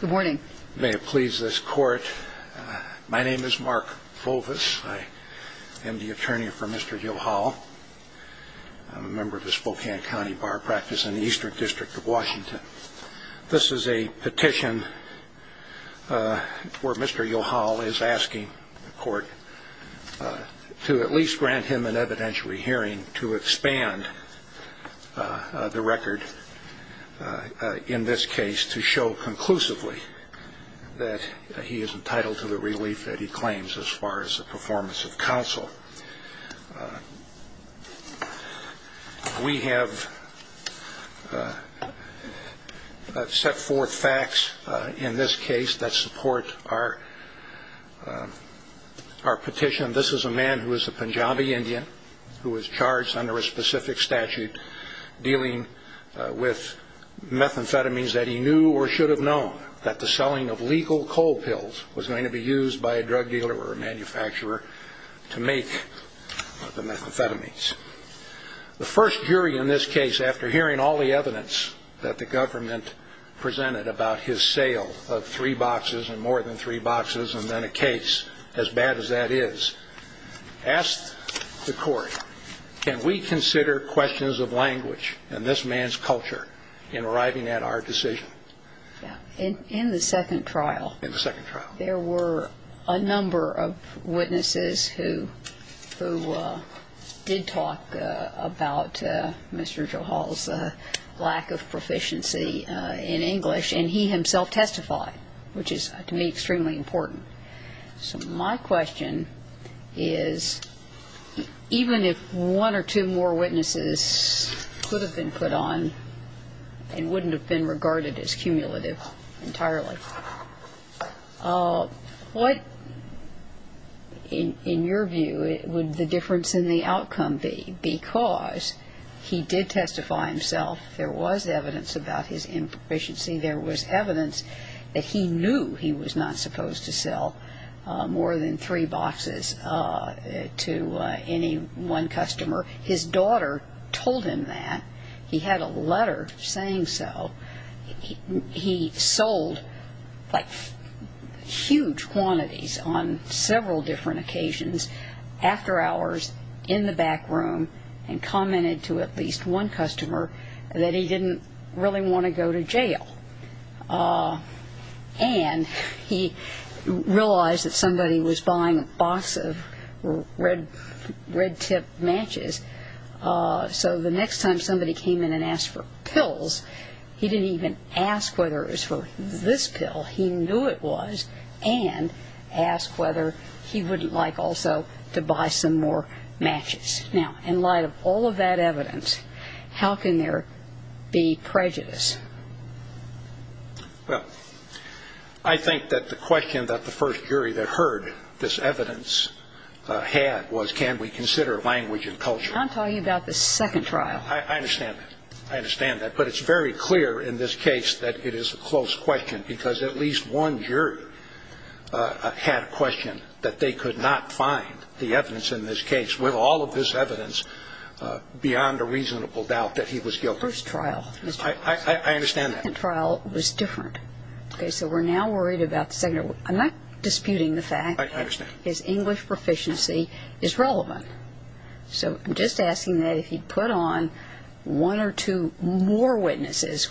Good morning. May it please this court. My name is Mark Volvis. I am the attorney for Mr. Johal. I'm a member of the Spokane County Bar Practice in the Eastern District of Washington. This is a petition where Mr. Johal is asking the court to at least grant him an evidentiary hearing to expand the record in this case to show conclusively that he is entitled to the relief that he claims as far as the performance of counsel. We have set forth facts in this case that support our petition. This is a man who is a Punjabi Indian who was charged under a specific statute dealing with methamphetamines that he knew or should have known that the selling of legal coal pills was going to be used by a drug dealer or a manufacturer to make these drugs. The first jury in this case, after hearing all the evidence that the government presented about his sale of three boxes and more than three boxes and then a case as bad as that is, asked the court, can we consider questions of language in this man's culture in arriving at our decision? In the second trial, there were a number of witnesses who did talk about Mr. Johal's lack of proficiency in English, and he himself testified, which is to me extremely important. So my question is, even if one or two more witnesses could have been put on and wouldn't have been regarded as cumulative entirely, what, in your view, would the difference in the outcome be? Because he did testify himself, there was evidence about his improficiency. There was evidence that he knew he was not supposed to sell more than three boxes to any one customer. His daughter told him that. He had a letter saying so. He sold, like, huge quantities on several different occasions, after hours, in the back room, and commented to at least one customer that he didn't really want to go to jail. And he realized that somebody was buying a box of red-tipped matches, so the next time somebody came in and asked for pills, he didn't even ask whether it was for this pill. He knew it was, and asked whether he wouldn't like also to buy some more matches. Now, in light of all of that evidence, how can there be prejudice? Well, I think that the question that the first jury that heard this evidence had was, can we consider language and culture? I'm talking about the second trial. I understand that. I understand that. But it's very clear in this case that it is a close question, because at least one jury had a question that they could not find the evidence in this case, with all of this evidence, beyond a reasonable doubt that he was guilty. The first trial. I understand that. The second trial was different. Okay, so we're now worried about the second. I'm not disputing the fact that his English proficiency is relevant. So I'm just asking that if he put on one or two more witnesses,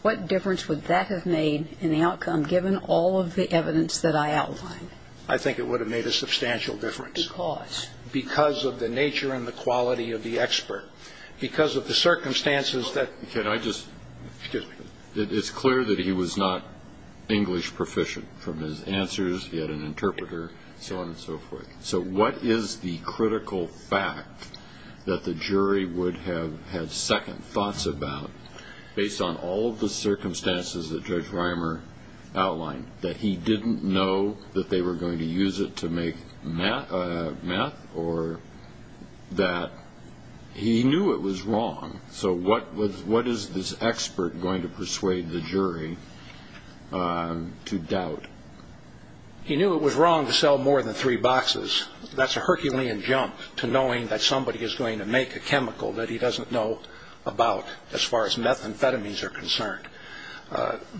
what difference would that have made in the outcome, given all of the evidence that I outlined? I think it would have made a substantial difference. Because? Because of the nature and the quality of the expert. Because of the circumstances that... It's clear that he was not English proficient, from his answers, he had an interpreter, so on and so forth. So what is the critical fact that the jury would have had second thoughts about, based on all of the circumstances that Judge Reimer outlined? That he didn't know that they were going to use it to make meth, or that he knew it was wrong? So what is this expert going to persuade the jury to doubt? He knew it was wrong to sell more than three boxes. That's a Herculean jump, to knowing that somebody is going to make a chemical that he doesn't know about, as far as methamphetamines are concerned.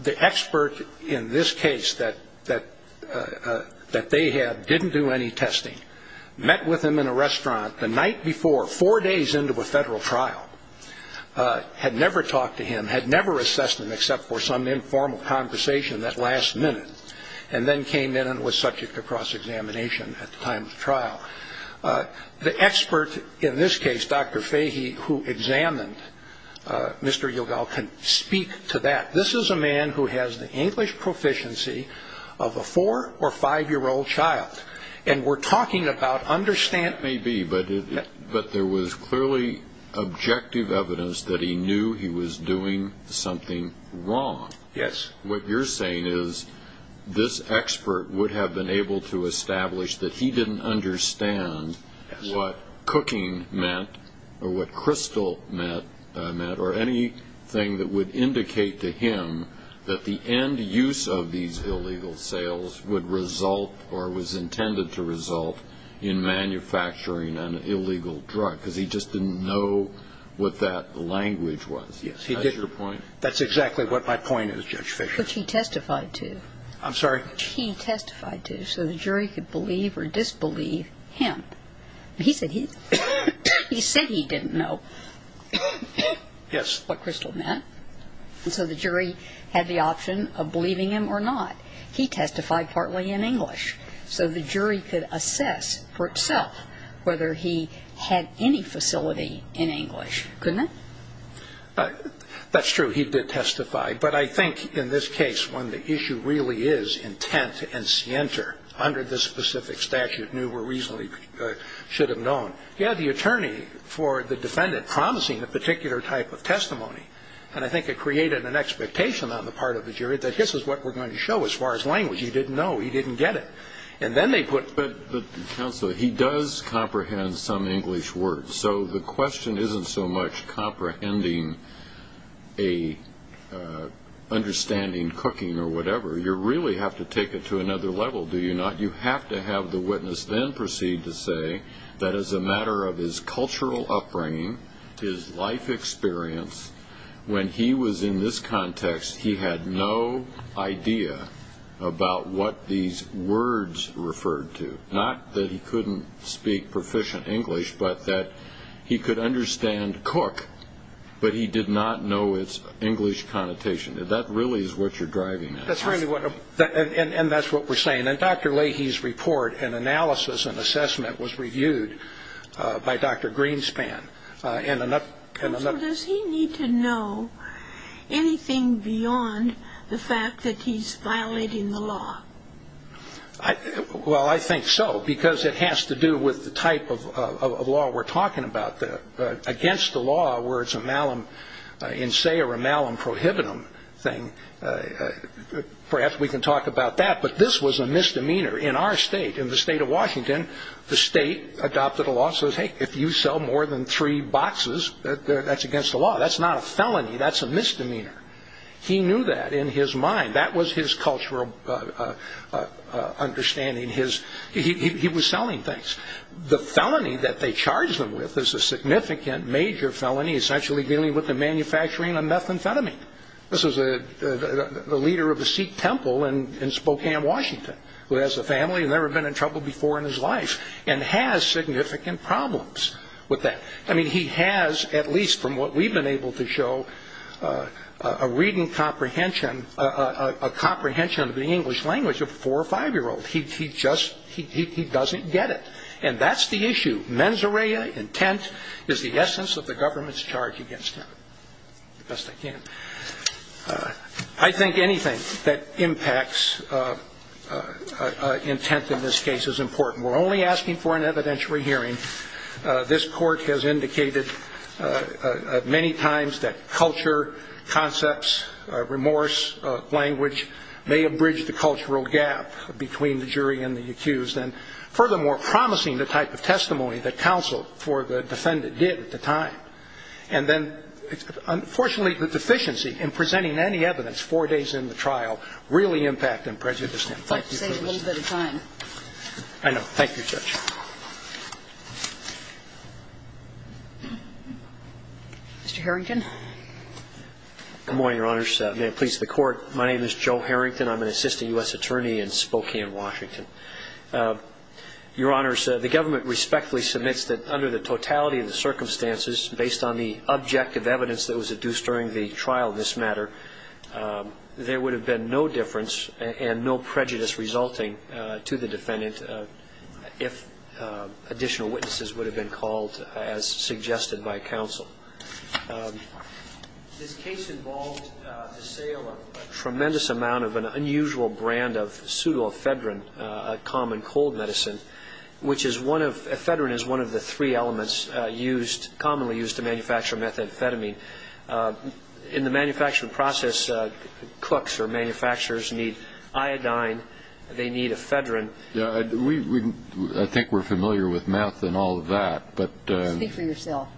The expert in this case that they had didn't do any testing, met with him in a restaurant the night before, four days into a federal trial, had never talked to him, had never assessed him except for some informal conversation that last minute, and then came in and was subject to cross-examination at the time of the trial. The expert in this case, Dr. Fahey, who examined Mr. Yogal, can speak to that. This is a man who has the English proficiency of a four- or five-year-old child, and we're talking about understanding... Maybe, but there was clearly objective evidence that he knew he was doing something wrong. Yes. What you're saying is this expert would have been able to establish that he didn't understand what cooking meant, or what crystal meant, or anything that would indicate to him that the end use of these illegal sales would result, or was intended to result, in manufacturing an illegal drug, because he just didn't know what that language was. Yes. That's your point? Which he testified to. I'm sorry? Which he testified to, so the jury could believe or disbelieve him. He said he didn't know what crystal meant, and so the jury had the option of believing him or not. He testified partly in English, so the jury could assess for itself whether he had any facility in English, couldn't it? That's true. He did testify, but I think in this case, when the issue really is intent and scienter, under this specific statute, knew or reasonably should have known, he had the attorney for the defendant promising a particular type of testimony, and I think it created an expectation on the part of the jury that this is what we're going to show as far as language. He didn't know. He didn't get it. And then they put... But, counsel, he does comprehend some English words, so the question isn't so much comprehending a understanding cooking or whatever. You really have to take it to another level, do you not? You have to have the witness then proceed to say that as a matter of his cultural upbringing, his life experience, when he was in this context, he had no idea about what these words referred to. Not that he couldn't speak proficient English, but that he could understand cook, but he did not know its English connotation. That really is what you're driving at. And that's what we're saying. And Dr. Leahy's report and analysis and assessment was reviewed by Dr. Greenspan. Counsel, does he need to know anything beyond the fact that he's violating the law? Well, I think so, because it has to do with the type of law we're talking about. Against the law, where it's a malum in se or a malum prohibitum thing, perhaps we can talk about that. But this was a misdemeanor. In our state, in the state of Washington, the state adopted a law that says, hey, if you sell more than three boxes, that's against the law. That's not a felony. That's a misdemeanor. He knew that in his mind. That was his cultural understanding. He was selling things. The felony that they charged him with is a significant major felony, essentially dealing with the manufacturing of methamphetamine. This is the leader of a Sikh temple in Spokane, Washington, who has a family and never been in trouble before in his life and has significant problems with that. I mean, he has, at least from what we've been able to show, a reading comprehension, a comprehension of the English language of a four- or five-year-old. He just doesn't get it. And that's the issue. Mens area, intent, is the essence of the government's charge against him, best they can. I think anything that impacts intent in this case is important. We're only asking for an evidentiary hearing. This Court has indicated many times that culture, concepts, remorse, language, may have bridged the cultural gap between the jury and the accused and, furthermore, promising the type of testimony that counsel for the defendant did at the time. And then, unfortunately, the deficiency in presenting any evidence four days in the trial really impacted and prejudiced him. I'd like to save a little bit of time. I know. Thank you, Judge. Mr. Harrington. Good morning, Your Honors. May it please the Court, my name is Joe Harrington. I'm an assistant U.S. attorney in Spokane, Washington. Your Honors, the government respectfully submits that under the totality of the circumstances, based on the objective evidence that was adduced during the trial in this matter, there would have been no difference and no prejudice resulting to the defendant if additional witnesses would have been called, as suggested by counsel. This case involved the sale of a tremendous amount of an unusual brand of pseudoephedrine, a common cold medicine, which is one of the three elements commonly used to manufacture methamphetamine. In the manufacturing process, cooks or manufacturers need iodine, they need ephedrine. I think we're familiar with meth and all of that. Speak for yourself.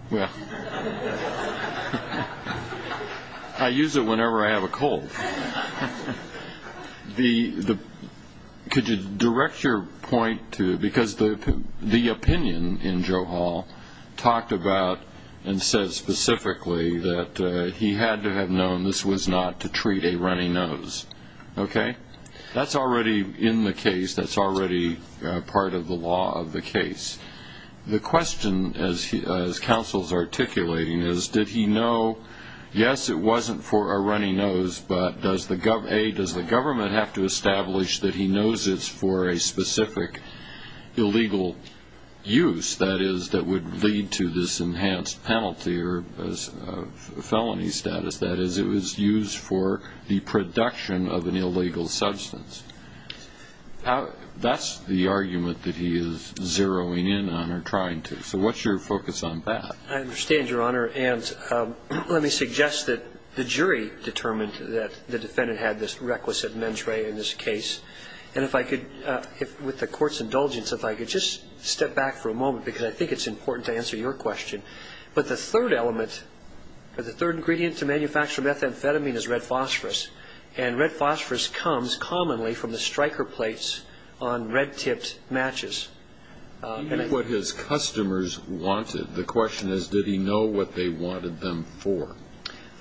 I use it whenever I have a cold. Could you direct your point to, because the opinion in Joe Hall talked about and said specifically that he had to have known this was not to treat a runny nose, okay? That's already in the case. That's already part of the law of the case. The question, as counsel is articulating, is did he know, yes, it wasn't for a runny nose, but does the government have to establish that he knows it's for a specific illegal use, that is, that would lead to this enhanced penalty or felony status, that is, it was used for the production of an illegal substance? That's the argument that he is zeroing in on or trying to. So what's your focus on that? I understand, Your Honor. And let me suggest that the jury determined that the defendant had this requisite mentrae in this case. And if I could, with the Court's indulgence, if I could just step back for a moment, because I think it's important to answer your question. But the third element, the third ingredient to manufacture methamphetamine is red phosphorus, and red phosphorus comes commonly from the striker plates on red-tipped matches. He knew what his customers wanted. The question is, did he know what they wanted them for?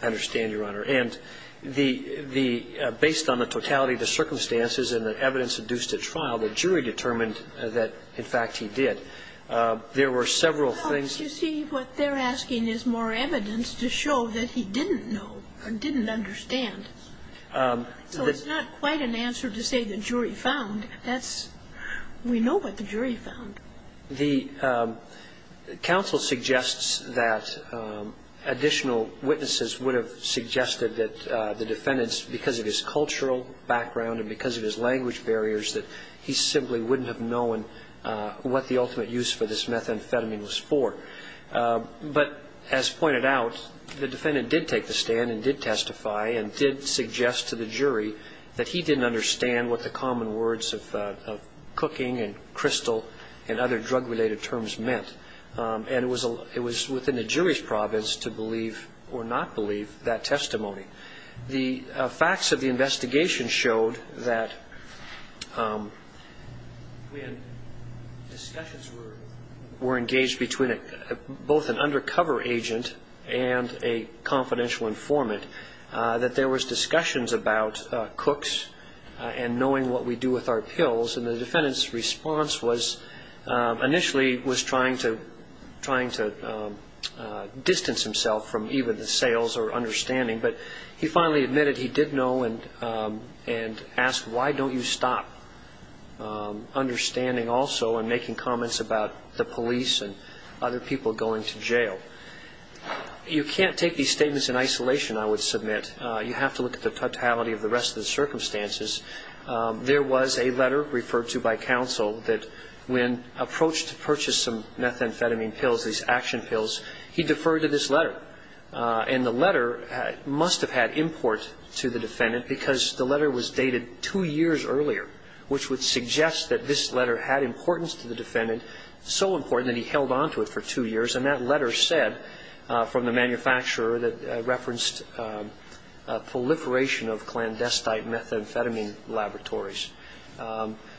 I understand, Your Honor. And the – based on the totality of the circumstances and the evidence induced at trial, the jury determined that, in fact, he did. There were several things. Well, you see, what they're asking is more evidence to show that he didn't know or didn't understand. So it's not quite an answer to say the jury found. That's – we know what the jury found. The counsel suggests that additional witnesses would have suggested that the defendant, because of his cultural background and because of his language barriers, that he simply wouldn't have known what the ultimate use for this methamphetamine was for. But as pointed out, the defendant did take the stand and did testify and did suggest to the jury that he didn't understand what the common words of cooking and crystal and other drug-related terms meant. And it was within the jury's province to believe or not believe that testimony. The facts of the investigation showed that when discussions were engaged between both an undercover agent and a confidential informant, that there was discussions about cooks and knowing what we do with our pills, and the defendant's response was initially was trying to distance himself from even the sales or understanding. But he finally admitted he did know and asked, why don't you stop understanding also and making comments about the police and other people going to jail? You can't take these statements in isolation, I would submit. You have to look at the totality of the rest of the circumstances. There was a letter referred to by counsel that when approached to purchase some methamphetamine pills, these action pills, he deferred to this letter. And the letter must have had import to the defendant because the letter was dated two years earlier, which would suggest that this letter had importance to the defendant, so important that he held onto it for two years. And that letter said from the manufacturer that referenced proliferation of clandestine methamphetamine laboratories.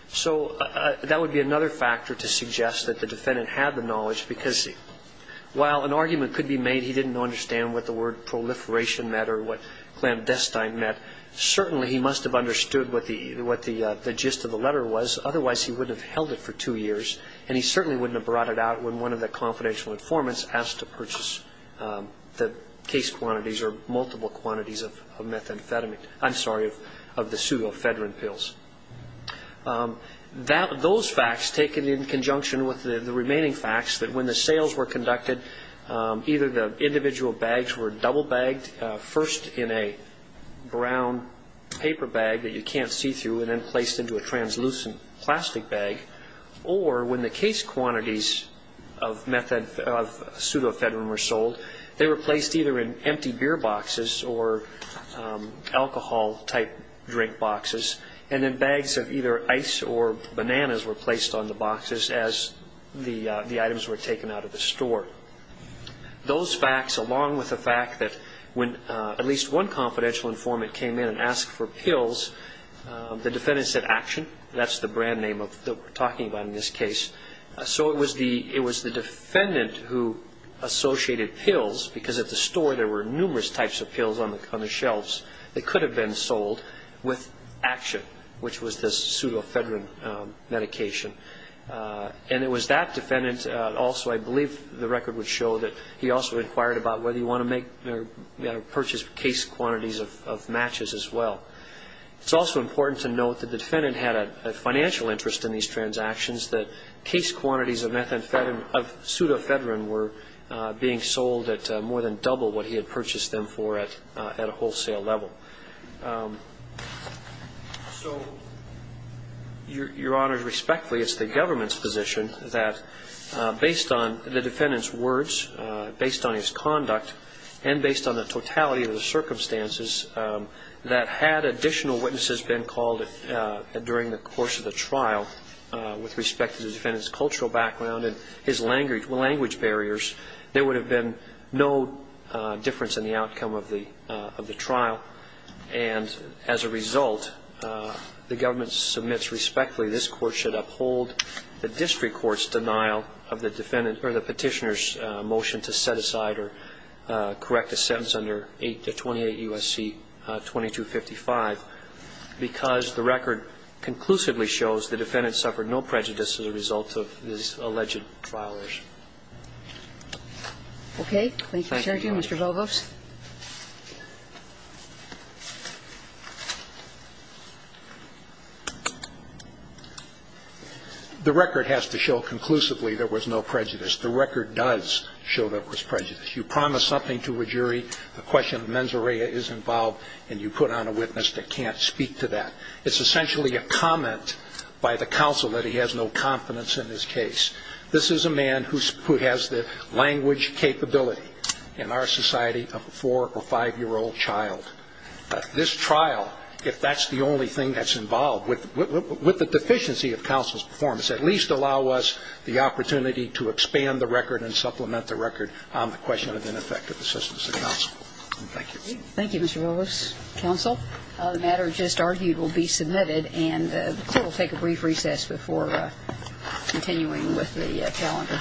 So that would be another factor to suggest that the defendant had the knowledge because while an argument could be made he didn't understand what the word proliferation meant or what clandestine meant, certainly he must have understood what the gist of the letter was, otherwise he wouldn't have held it for two years and he certainly wouldn't have brought it out when one of the confidential informants was asked to purchase the case quantities or multiple quantities of methamphetamine. I'm sorry, of the pseudoephedrine pills. Those facts, taken in conjunction with the remaining facts, that when the sales were conducted, either the individual bags were double bagged, first in a brown paper bag that you can't see through and then placed into a translucent plastic bag, or when the case quantities of pseudoephedrine were sold, they were placed either in empty beer boxes or alcohol-type drink boxes and then bags of either ice or bananas were placed on the boxes as the items were taken out of the store. Those facts, along with the fact that when at least one confidential informant came in and asked for pills, the defendant said, that's the brand name that we're talking about in this case. So it was the defendant who associated pills, because at the store there were numerous types of pills on the shelves, that could have been sold with Action, which was this pseudoephedrine medication. And it was that defendant also, I believe the record would show, that he also inquired about whether he wanted to purchase case quantities of matches as well. It's also important to note that the defendant had a financial interest in these transactions, that case quantities of pseudoephedrine were being sold at more than double what he had purchased them for at a wholesale level. So, Your Honor, respectfully, it's the government's position that based on the defendant's words, based on his conduct, and based on the totality of the circumstances, that had additional witnesses been called during the course of the trial, with respect to the defendant's cultural background and his language barriers, there would have been no difference in the outcome of the trial. And as a result, the government submits respectfully, this Court should uphold the district court's denial of the petitioner's motion to set aside or correct a sentence under 8 to 28 U.S.C. 2255, because the record conclusively shows the defendant suffered no prejudice as a result of this alleged trial issue. Thank you, Your Honor. Thank you, Mr. Bogos. The record has to show conclusively there was no prejudice. The record does show there was prejudice. You promise something to a jury, the question of mens rea is involved, and you put on a witness that can't speak to that. It's essentially a comment by the counsel that he has no confidence in his case. This is a man who has the language capability in our society of a 4- or 5-year-old child. This trial, if that's the only thing that's involved, with the deficiency of counsel's performance, at least allow us the opportunity to expand the record and supplement the record on the question of ineffective assistance of counsel. Thank you. Thank you, Mr. Bogos. Counsel, the matter just argued will be submitted, and the Court will take a brief recess before continuing with the calendar.